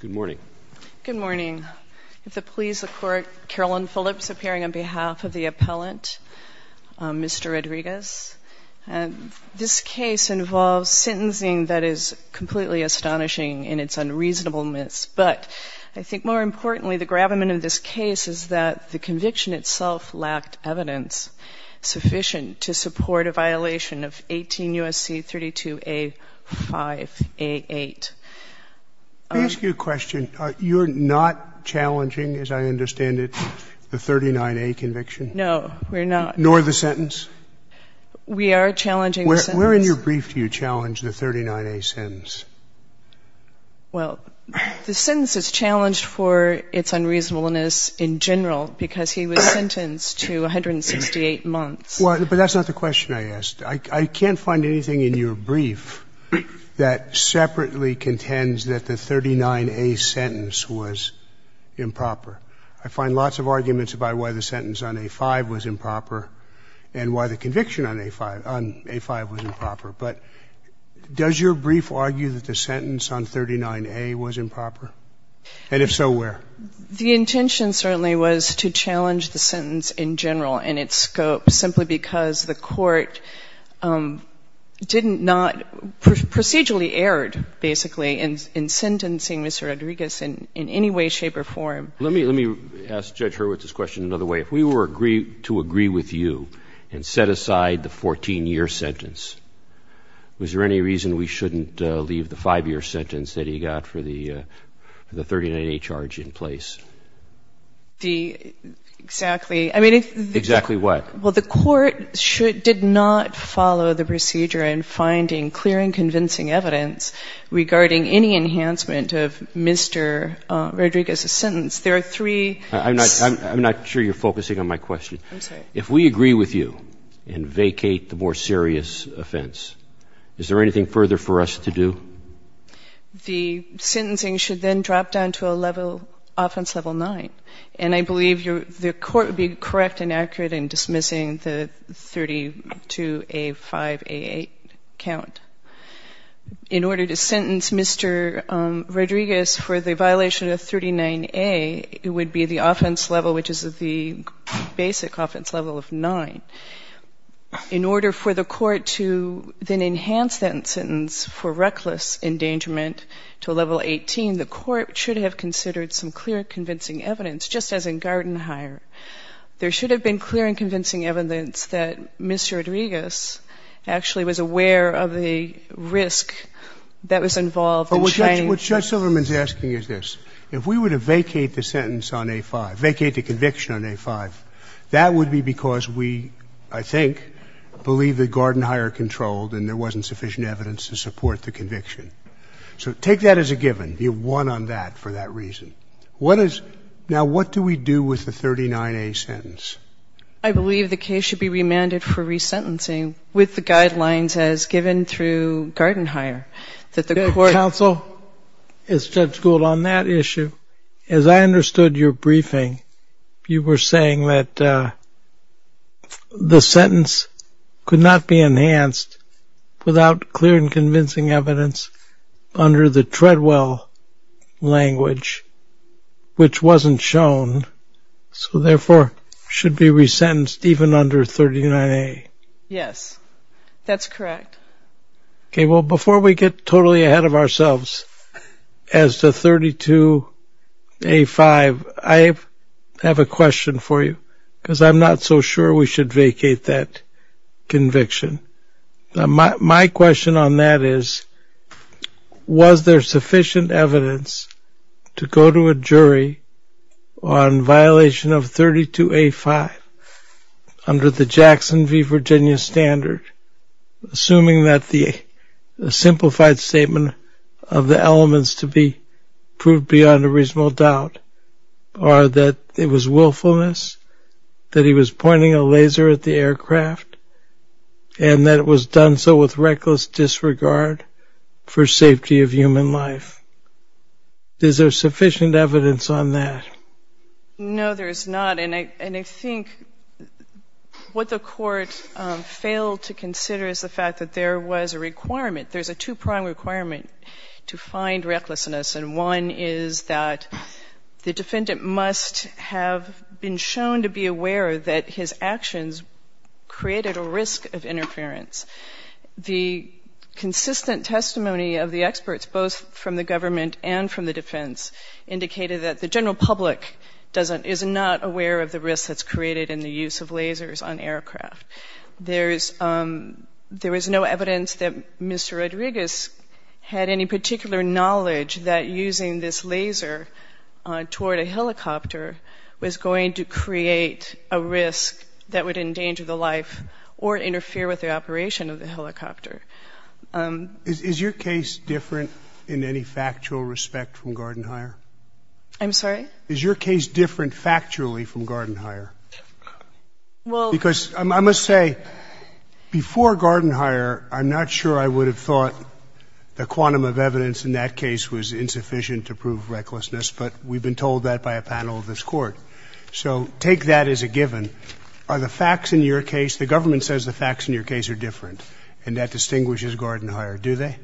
Good morning. Good morning. If it pleases the Court, Carolyn Phillips, appearing on behalf of the appellant, Mr. Rodriguez. This case involves sentencing that is completely astonishing in its unreasonableness, but I think more importantly, the gravamen of this case is that the conviction itself lacked evidence sufficient to support a violation of 18 U.S.C. 32A, 5A, 8. Let me ask you a question. You're not challenging, as I understand it, the 39A conviction? No, we're not. Nor the sentence? We are challenging the sentence. Where in your brief do you challenge the 39A sentence? Well, the sentence is challenged for its unreasonableness in general because he was sentenced to 168 months. Well, but that's not the question I asked. I can't find anything in your brief that separately contends that the 39A sentence was improper. I find lots of arguments about why the sentence on A5 was improper and why the conviction on A5 was improper. But does your brief argue that the sentence on 39A was improper? And if so, where? The intention certainly was to challenge the sentence in general and its scope simply because the Court did not procedurally erred, basically, in sentencing Mr. Rodriguez in any way, shape or form. Let me ask Judge Hurwitz's question another way. If we were to agree with you and set aside the 14-year sentence, was there any reason we shouldn't leave the 5-year sentence that he got for the 39A charge in place? Exactly. Exactly what? Well, the Court did not follow the procedure in finding clear and convincing evidence regarding any enhancement of Mr. Rodriguez's sentence. There are three. I'm not sure you're focusing on my question. I'm sorry. If we agree with you and vacate the more serious offense, is there anything further for us to do? The sentencing should then drop down to a level, offense level 9. And I believe the Court would be correct and accurate in dismissing the 32A, 5A, 8 count. In order to sentence Mr. Rodriguez for the violation of 39A, it would be the offense level which is the basic offense level of 9. In order for the Court to then enhance that sentence for reckless endangerment to a level 18, the Court should have considered some clear and convincing evidence, just as in Gardenhire. There should have been clear and convincing evidence that Mr. Rodriguez actually was aware of the risk that was involved and changed. What Judge Silverman is asking is this. If we were to vacate the sentence on A5, vacate the conviction on A5, that would be because we, I think, believe that Gardenhire controlled and there wasn't sufficient evidence to support the conviction. So take that as a given. You won on that for that reason. Now, what do we do with the 39A sentence? I believe the case should be remanded for resentencing with the guidelines as given through Gardenhire. Counsel, as Judge Gould, on that issue, as I understood your briefing, you were saying that the sentence could not be enhanced without clear and convincing evidence under the Treadwell language, which wasn't shown. So therefore, it should be resentenced even under 39A. Yes, that's correct. Okay, well, before we get totally ahead of ourselves as to 32A5, I have a question for you because I'm not so sure we should vacate that conviction. My question on that is, was there sufficient evidence to go to a jury on violation of 32A5 under the Jackson v. Virginia standard, assuming that the simplified statement of the elements to be proved beyond a reasonable doubt, or that it was willfulness, that he was pointing a laser at the aircraft, and that it was done so with reckless disregard for safety of human life? Is there sufficient evidence on that? No, there is not. And I think what the Court failed to consider is the fact that there was a requirement. There's a two-prong requirement to find recklessness, and one is that the defendant must have been shown to be aware that his actions created a risk of interference. The consistent testimony of the experts, both from the government and from the defense, indicated that the general public is not aware of the risk that's created in the use of lasers on aircraft. There was no evidence that Mr. Rodriguez had any particular knowledge that using this laser toward a helicopter was going to create a risk that would endanger the life or interfere with the operation of the helicopter. Is your case different in any factual respect from Gardenhire? I'm sorry? Is your case different factually from Gardenhire? Because I must say, before Gardenhire, I'm not sure I would have thought the quantum of evidence in that case was insufficient to prove recklessness, but we've been told that by a panel of this Court. So take that as a given. Are the facts in your case, the government says the facts in your case are different, and that distinguishes Gardenhire, do they?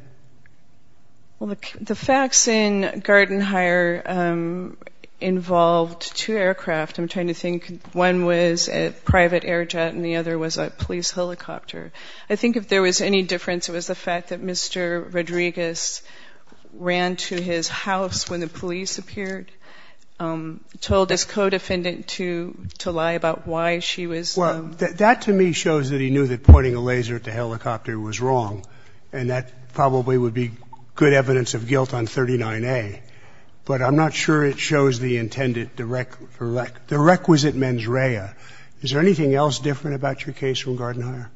Well, the facts in Gardenhire involved two aircraft. I'm trying to think. One was a private air jet, and the other was a police helicopter. I think if there was any difference, it was the fact that Mr. Rodriguez ran to his house when the police appeared, told his co-defendant to lie about why she was. Well, that to me shows that he knew that pointing a laser at the helicopter was wrong, and that probably would be good evidence of guilt on 39A. But I'm not sure it shows the intended, the requisite mens rea. Is there anything else different about your case from Gardenhire?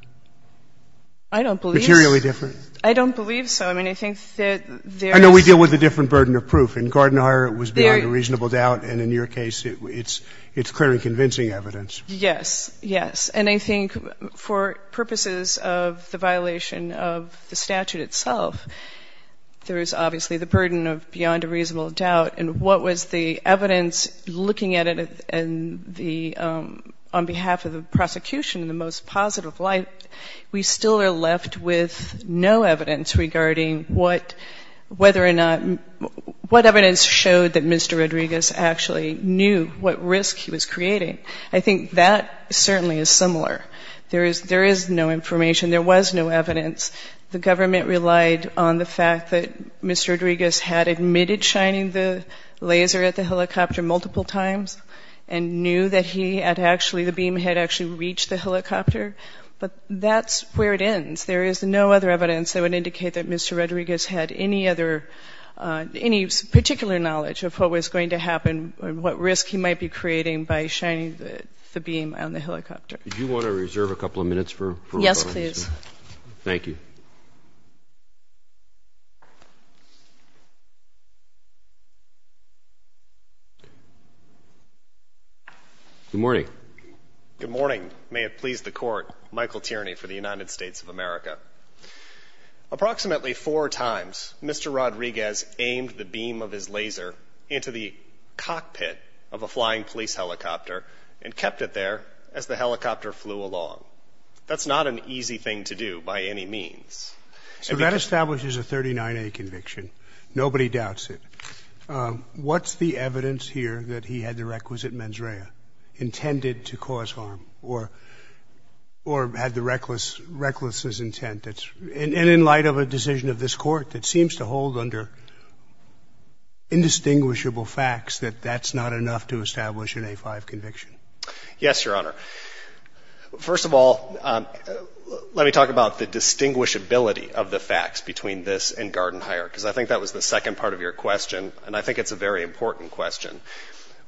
I don't believe so. Materially different? I don't believe so. I mean, I think that there is. We deal with a different burden of proof. In Gardenhire, it was beyond a reasonable doubt. And in your case, it's clearly convincing evidence. Yes. Yes. And I think for purposes of the violation of the statute itself, there is obviously the burden of beyond a reasonable doubt. And what was the evidence looking at it on behalf of the prosecution in the most positive light, we still are left with no evidence regarding whether or not, what evidence showed that Mr. Rodriguez actually knew what risk he was creating. I think that certainly is similar. There is no information. There was no evidence. The government relied on the fact that Mr. Rodriguez had admitted shining the laser at the helicopter multiple times and knew that he had actually, the beam had actually reached the helicopter. But that's where it ends. There is no other evidence that would indicate that Mr. Rodriguez had any other, any particular knowledge of what was going to happen, what risk he might be creating by shining the beam on the helicopter. Do you want to reserve a couple of minutes for rebuttals? Yes, please. Thank you. Good morning. Good morning. May it please the Court, Michael Tierney for the United States of America. Approximately four times, Mr. Rodriguez aimed the beam of his laser into the cockpit of a flying police helicopter and kept it there as the helicopter flew along. That's not an easy thing to do by any means. So that establishes a 39A conviction. Nobody doubts it. What's the evidence here that he had the requisite mens rea intended to cause harm or had the reckless intent? And in light of a decision of this Court that seems to hold under indistinguishable facts that that's not enough to establish an A-5 conviction. Yes, Your Honor. First of all, let me talk about the distinguishability of the facts between this and and I think it's a very important question.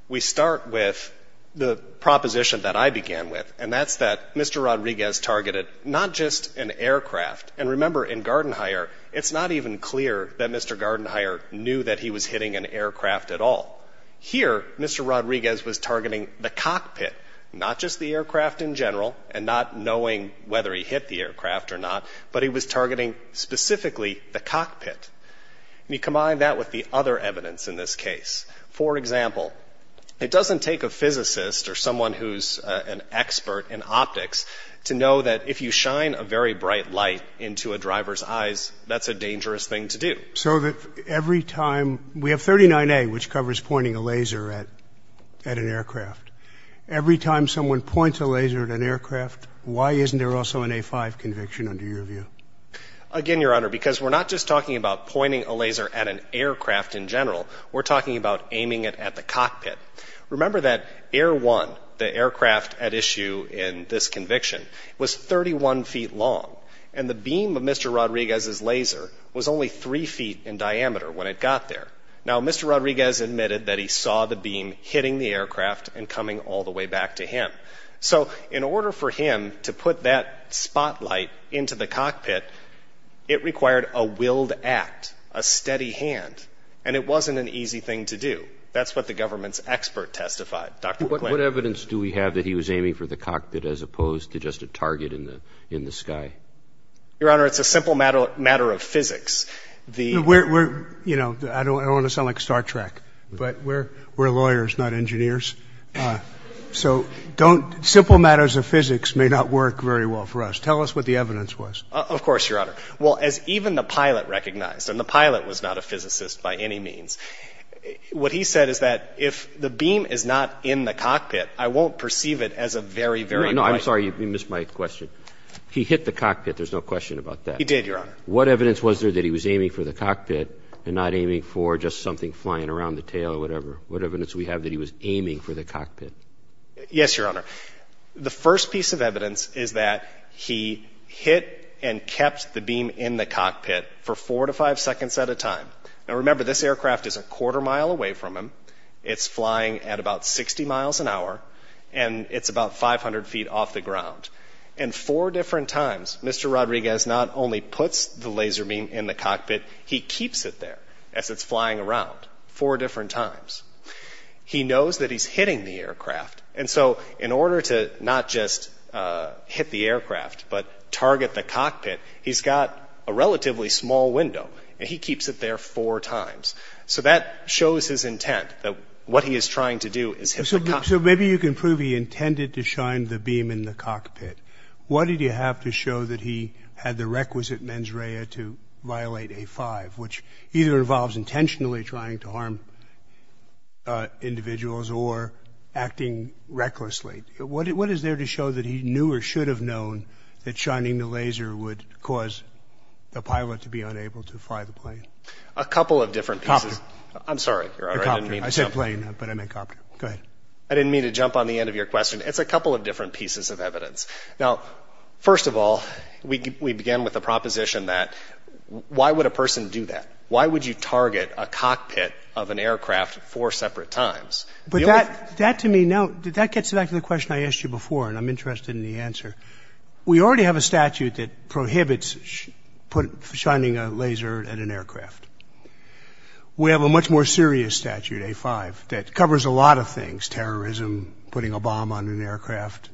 We start with the proposition that I began with, and that's that Mr. Rodriguez targeted not just an aircraft. And remember, in Gartenheuer, it's not even clear that Mr. Gartenheuer knew that he was hitting an aircraft at all. Here, Mr. Rodriguez was targeting the cockpit, not just the aircraft in general and not knowing whether he hit the aircraft or not, but he was targeting specifically the cockpit. And he combined that with the other evidence in this case. For example, it doesn't take a physicist or someone who's an expert in optics to know that if you shine a very bright light into a driver's eyes, that's a dangerous thing to do. So that every time we have 39A, which covers pointing a laser at an aircraft, every time someone points a laser at an aircraft, why isn't there also an A-5 conviction under your view? Again, Your Honor, because we're not just talking about pointing a laser at an aircraft in general, we're talking about aiming it at the cockpit. Remember that Air 1, the aircraft at issue in this conviction, was 31 feet long and the beam of Mr. Rodriguez's laser was only 3 feet in diameter when it got there. Now, Mr. Rodriguez admitted that he saw the beam hitting the aircraft and coming all the way back to him. So in order for him to put that spotlight into the cockpit, it required a willed act, a steady hand, and it wasn't an easy thing to do. That's what the government's expert testified, Dr. McClain. What evidence do we have that he was aiming for the cockpit as opposed to just a target in the sky? Your Honor, it's a simple matter of physics. We're, you know, I don't want to sound like Star Trek, but we're lawyers, not engineers. So simple matters of physics may not work very well for us. Tell us what the evidence was. Of course, Your Honor. Well, as even the pilot recognized, and the pilot was not a physicist by any means, what he said is that if the beam is not in the cockpit, I won't perceive it as a very, very light. No, I'm sorry. You missed my question. He hit the cockpit. There's no question about that. He did, Your Honor. What evidence was there that he was aiming for the cockpit and not aiming for just something flying around the tail or whatever? What evidence do we have that he was aiming for the cockpit? Yes, Your Honor. The first piece of evidence is that he hit and kept the beam in the cockpit for four to five seconds at a time. Now, remember, this aircraft is a quarter mile away from him. It's flying at about 60 miles an hour, and it's about 500 feet off the ground. And four different times, Mr. Rodriguez not only puts the laser beam in the cockpit, he keeps it there as it's flying around four different times. He knows that he's hitting the aircraft, and so in order to not just hit the aircraft but target the cockpit, he's got a relatively small window, and he keeps it there four times. So that shows his intent, that what he is trying to do is hit the cockpit. So maybe you can prove he intended to shine the beam in the cockpit. What did you have to show that he had the requisite mens rea to violate A-5, which either involves intentionally trying to harm individuals or acting recklessly? What is there to show that he knew or should have known that shining the laser would cause the pilot to be unable to fly the plane? A couple of different pieces. Copter. I'm sorry, Your Honor. I didn't mean to jump. I said plane, but I meant copter. Go ahead. I didn't mean to jump on the end of your question. It's a couple of different pieces of evidence. Now, first of all, we began with the proposition that why would a person do that? Why would you target a cockpit of an aircraft four separate times? But that, to me, now, that gets back to the question I asked you before, and I'm interested in the answer. We already have a statute that prohibits shining a laser at an aircraft. We have a much more serious statute, A-5, that covers a lot of things, terrorism, putting a bomb on an aircraft,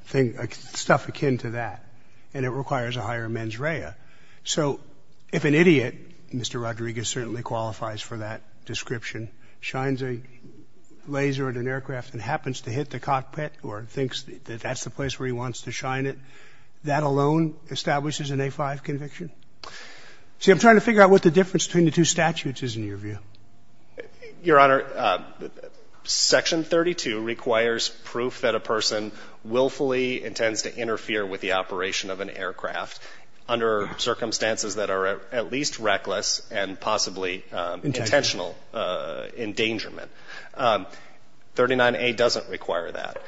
stuff akin to that, and it requires a higher mens rea. So if an idiot, Mr. Rodriguez certainly qualifies for that description, shines a laser at an aircraft and happens to hit the cockpit or thinks that that's the place where he wants to shine it, that alone establishes an A-5 conviction. See, I'm trying to figure out what the difference between the two statutes is in your view. Your Honor, Section 32 requires proof that a person willfully intends to interfere with the operation of an aircraft under circumstances that are at least reckless and possibly intentional endangerment. 39A doesn't require that.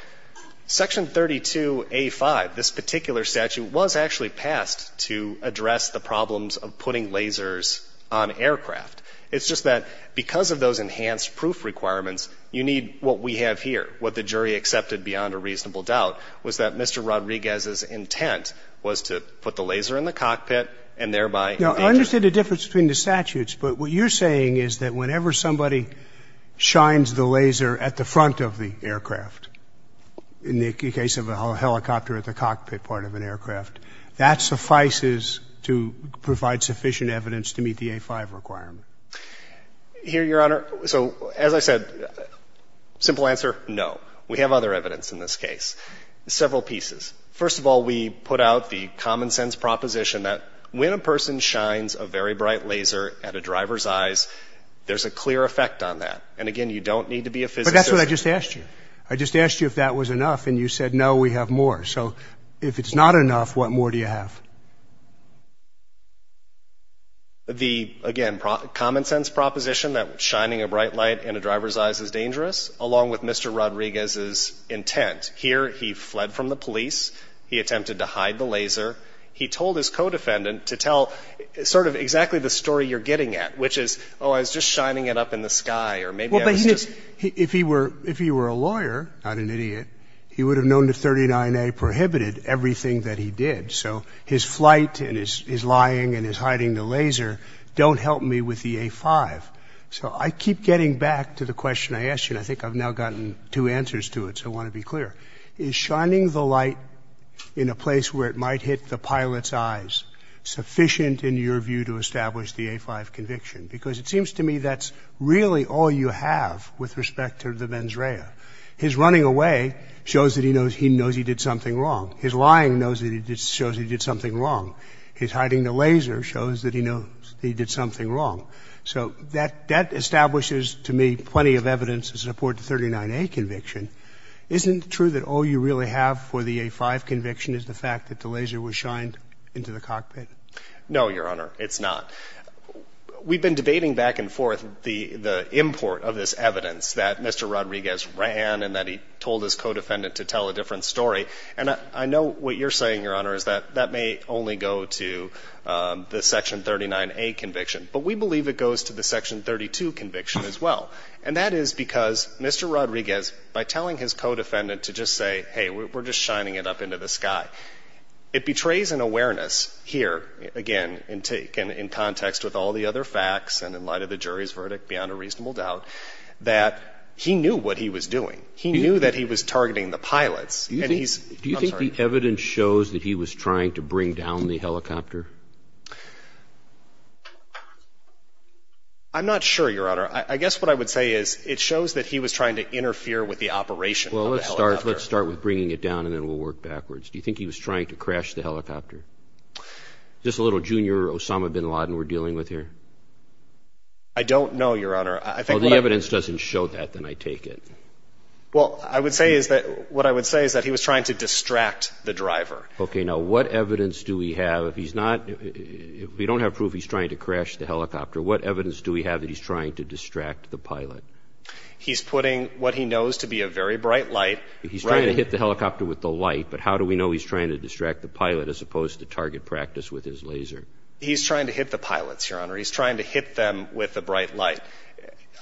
Section 32A-5, this particular statute, was actually passed to address the problems of putting lasers on aircraft. It's just that because of those enhanced proof requirements, you need what we have here, what the jury accepted beyond a reasonable doubt, was that Mr. Rodriguez's intent was to put the laser in the cockpit and thereby... But what you're saying is that whenever somebody shines the laser at the front of the aircraft, in the case of a helicopter at the cockpit part of an aircraft, that suffices to provide sufficient evidence to meet the A-5 requirement. Here, Your Honor, so as I said, simple answer, no. We have other evidence in this case, several pieces. First of all, we put out the common-sense proposition that when a person shines a very bright laser at a driver's eyes, there's a clear effect on that. And again, you don't need to be a physicist. But that's what I just asked you. I just asked you if that was enough, and you said, no, we have more. So if it's not enough, what more do you have? The, again, common-sense proposition that shining a bright light in a driver's eyes is dangerous, along with Mr. Rodriguez's intent. Here, he fled from the police. He attempted to hide the laser. He told his co-defendant to tell sort of exactly the story you're getting at, which is, oh, I was just shining it up in the sky, or maybe I was just... Well, but he didn't... If he were a lawyer, not an idiot, he would have known that 39A prohibited everything that he did. So his flight and his lying and his hiding the laser don't help me with the A-5. So I keep getting back to the question I asked you, and I think I've now gotten two answers to it, so I want to be clear. Is shining the light in a place where it might hit the pilot's eyes sufficient, in your view, to establish the A-5 conviction? Because it seems to me that's really all you have with respect to the mens rea. His running away shows that he knows he did something wrong. His lying shows that he did something wrong. His hiding the laser shows that he knows he did something wrong. So that establishes to me plenty of evidence to support the 39A conviction. Isn't it true that all you really have for the A-5 conviction is the fact that the laser was shined into the cockpit? No, Your Honor, it's not. We've been debating back and forth the import of this evidence that Mr. Rodriguez ran and that he told his co-defendant to tell a different story. And I know what you're saying, Your Honor, is that that may only go to the Section 39A conviction. But we believe it goes to the Section 32 conviction as well. And that is because Mr. Rodriguez, by telling his co-defendant to just say, hey, we're just shining it up into the sky, it betrays an awareness here, again, in context with all the other facts and in light of the jury's verdict beyond a reasonable doubt, that he knew what he was doing. He knew that he was targeting the pilots. Do you think the evidence shows that he was trying to bring down the helicopter? I'm not sure, Your Honor. I guess what I would say is it shows that he was trying to interfere with the operation of the helicopter. Well, let's start with bringing it down and then we'll work backwards. Do you think he was trying to crash the helicopter? Is this a little junior Osama bin Laden we're dealing with here? I don't know, Your Honor. Well, the evidence doesn't show that, then I take it. Well, I would say is that what I would say is that he was trying to distract the driver. Okay. Now, what evidence do we have if he's not, if we don't have proof he's trying to crash the helicopter, what evidence do we have that he's trying to distract the pilot? He's putting what he knows to be a very bright light. He's trying to hit the helicopter with the light, but how do we know he's trying to distract the pilot as opposed to target practice with his laser? He's trying to hit the pilots, Your Honor. He's trying to hit them with the bright light.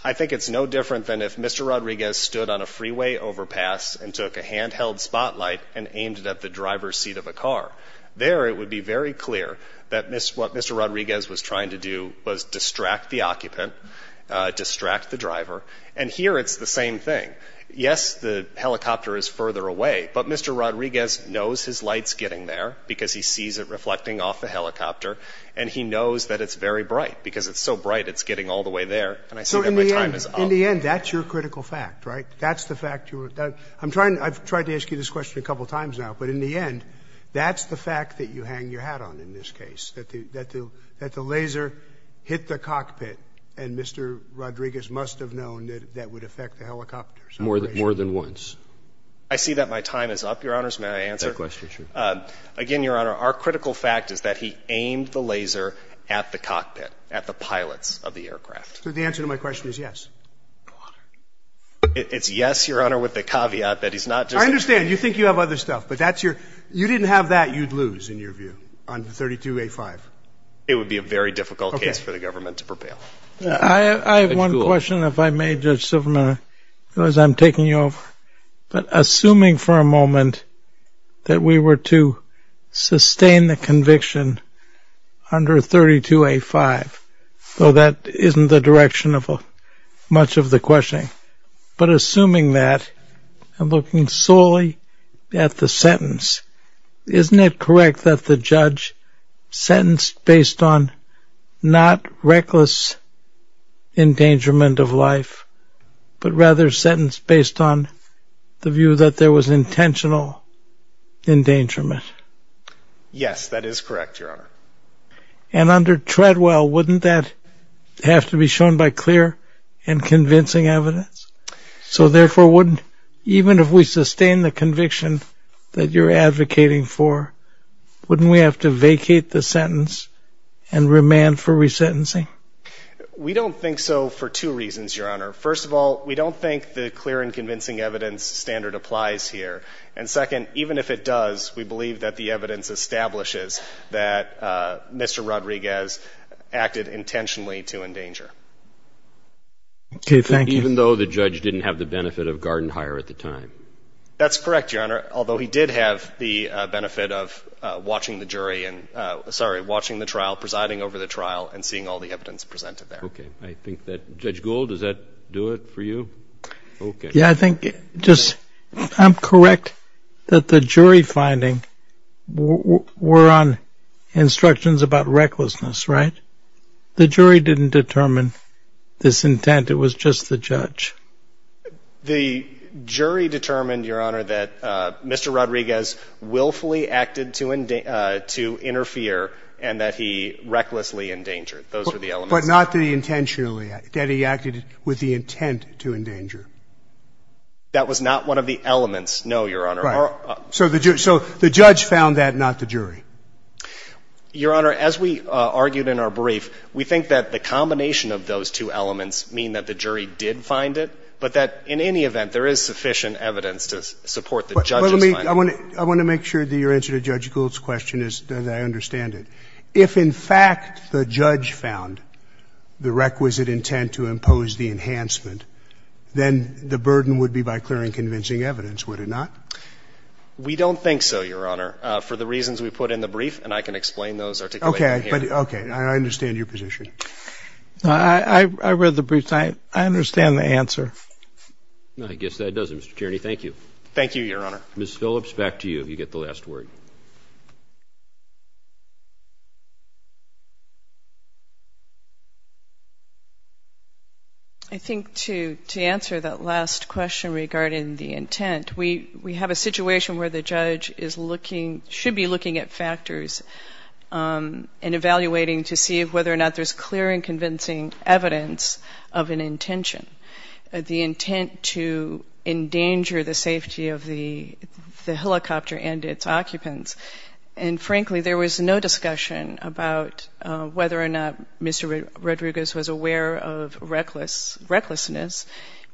I think it's no different than if Mr. Rodriguez stood on a freeway overpass and took a handheld spotlight and aimed it at the driver's seat of a car. There it would be very clear that what Mr. Rodriguez was trying to do was distract the occupant, distract the driver, and here it's the same thing. Yes, the helicopter is further away, but Mr. Rodriguez knows his light's getting there because he sees it reflecting off the helicopter, and he knows that it's very bright because it's so bright it's getting all the way there, and I see that my time is up. So in the end that's your critical fact, right? That's the fact you were, I'm trying, I've tried to ask you this question a couple times now, but in the end that's the fact that you hang your hat on in this case, that the laser hit the cockpit and Mr. Rodriguez must have known that that would affect the helicopter. More than once. I see that my time is up, Your Honors. May I answer? That question, sure. Again, Your Honor, our critical fact is that he aimed the laser at the cockpit, at the pilots of the aircraft. So the answer to my question is yes. It's yes, Your Honor, with the caveat that he's not just... I understand, you think you have other stuff, but that's your, you didn't have that you'd lose in your view on 32A5. It would be a very difficult case for the government to prevail. I have one question if I may, Judge Silverman, because I'm taking you off, but assuming for a moment that we were to sustain the conviction under 32A5, though that isn't the direction of much of the questioning, but assuming that and looking solely at the sentence, isn't it correct that the judge sentenced based on not reckless endangerment of life, but rather sentenced based on the view that there was intentional endangerment? Yes, that is correct, Your Honor. And under Treadwell, wouldn't that have to be shown by clear and convincing evidence? So therefore, wouldn't, even if we sustain the conviction that you're advocating for, wouldn't we have to vacate the sentence and remand for resentencing? We don't think so for two reasons, Your Honor. First of all, we don't think the clear and convincing evidence standard applies here. And second, even if it does, we believe that the evidence establishes that Mr. Rodriguez acted intentionally to endanger. Okay, thank you. Even though the judge didn't have the benefit of guard and hire at the time? That's correct, Your Honor, although he did have the benefit of watching the jury and, sorry, watching the trial, presiding over the trial, and seeing all the evidence presented there. Okay, I think that, Judge Gould, does that do it for you? Yeah, I think just, I'm correct that the jury finding were on instructions about recklessness, right? The jury didn't determine this intent. It was just the judge. The jury determined, Your Honor, that Mr. Rodriguez willfully acted to interfere and that he recklessly endangered. Those were the elements. But not that he intentionally, that he acted with the intent to endanger. That was not one of the elements, no, Your Honor. Right. So the judge found that, not the jury. Your Honor, as we argued in our brief, we think that the combination of those two elements mean that the jury did find it, but that in any event, there is sufficient evidence to support the judge's finding. I want to make sure that your answer to Judge Gould's question is that I understand if, in fact, the judge found the requisite intent to impose the enhancement, then the burden would be by clearing convincing evidence, would it not? We don't think so, Your Honor, for the reasons we put in the brief, and I can explain those articulation here. Okay. I understand your position. I read the brief. I understand the answer. I guess that does it, Mr. Tierney. Thank you. Thank you, Your Honor. Ms. Phillips, back to you. You get the last word. Thank you. I think to answer that last question regarding the intent, we have a situation where the judge should be looking at factors and evaluating to see whether or not there's clear and convincing evidence of an intention, the intent to endanger the safety of the helicopter and its occupants. And, frankly, there was no discussion about whether or not Mr. Rodriguez was aware of recklessness.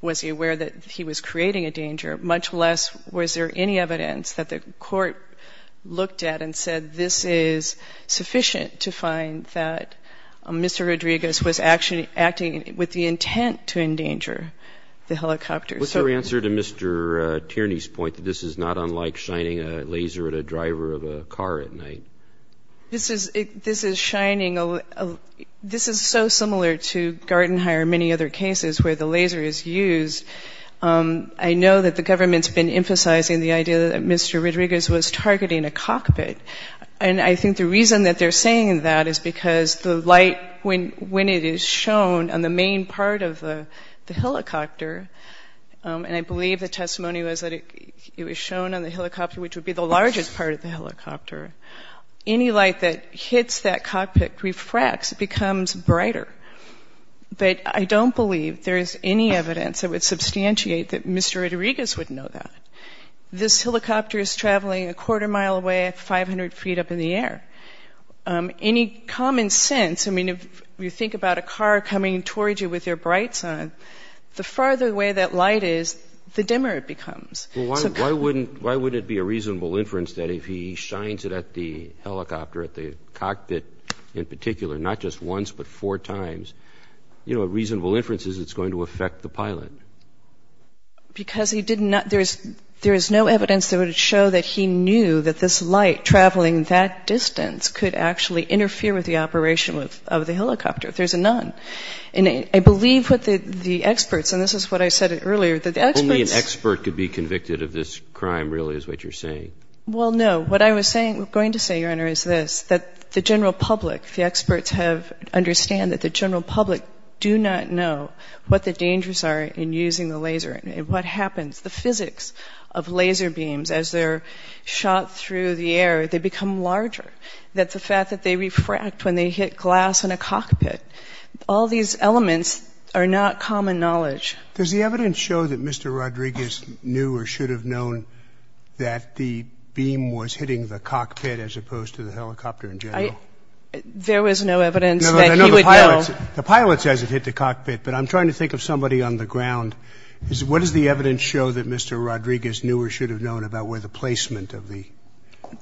Was he aware that he was creating a danger, much less was there any evidence that the court looked at and said this is sufficient to find that Mr. Rodriguez was acting with the intent to endanger the helicopter. What's your answer to Mr. Tierney's point that this is not unlike shining a laser at a driver of a car at night? This is so similar to Garden Hire and many other cases where the laser is used. I know that the government's been emphasizing the idea that Mr. Rodriguez was targeting a cockpit. And I think the reason that they're saying that is because the light, when it is shown on the main part of the helicopter, and I believe the testimony was that it was shown on the helicopter, which would be the largest part of the helicopter, any light that hits that cockpit refracts, becomes brighter. But I don't believe there is any evidence that would substantiate that Mr. Rodriguez would know that. This helicopter is traveling a quarter mile away at 500 feet up in the air. Any common sense, I mean, if you think about a car coming towards you with their brights on, the farther away that light is, the dimmer it becomes. Why wouldn't it be a reasonable inference that if he shines it at the helicopter, at the cockpit in particular, not just once but four times, a reasonable inference is it's going to affect the pilot? Because there is no evidence that would show that he knew that this light traveling that distance could actually interfere with the operation of the helicopter if there's a nun. And I believe what the experts, and this is what I said earlier, that the experts... Only an expert could be convicted of this crime really is what you're saying. Well, no. What I was going to say, Your Honor, is this, that the general public, the experts understand that the general public do not know what the dangers are in using the laser. What happens? The physics of laser beams as they're shot through the air, they become larger. That's the fact that they refract when they hit glass in a cockpit. All these elements are not common knowledge. Does the evidence show that Mr. Rodriguez knew or should have known that the beam was hitting the cockpit as opposed to the helicopter in general? There was no evidence that he would know. The pilot says it hit the cockpit, but I'm trying to think of somebody on the ground. What does the evidence show that Mr. Rodriguez knew or should have known about where the placement of the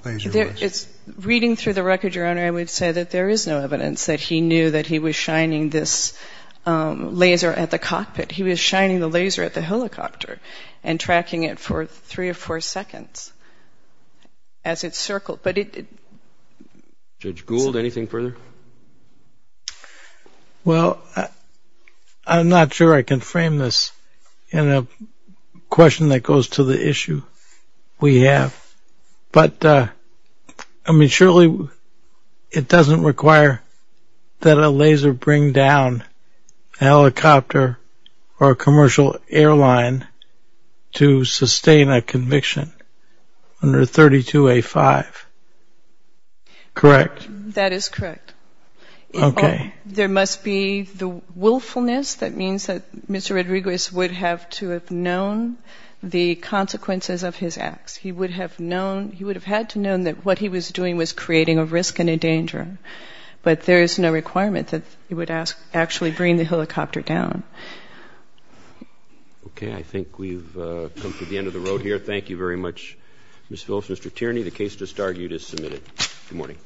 laser was? Reading through the record, Your Honor, I would say that there is no evidence that he knew that he was shining this laser at the cockpit. He was shining the laser at the helicopter and tracking it for three or four seconds as it circled. Judge Gould, anything further? Well, I'm not sure I can frame this in a question that goes to the issue we have. But, I mean, surely it doesn't require that a laser bring down a helicopter or a commercial airline to sustain a conviction under 32A5, correct? That is correct. Okay. There must be the willfulness that means that Mr. Rodriguez would have to have known the consequences of his acts. He would have had to have known that what he was doing was creating a risk and a danger. But there is no requirement that he would actually bring the helicopter down. Okay. I think we've come to the end of the road here. Thank you very much, Ms. Phillips. Mr. Tierney, the case just argued is submitted. Good morning.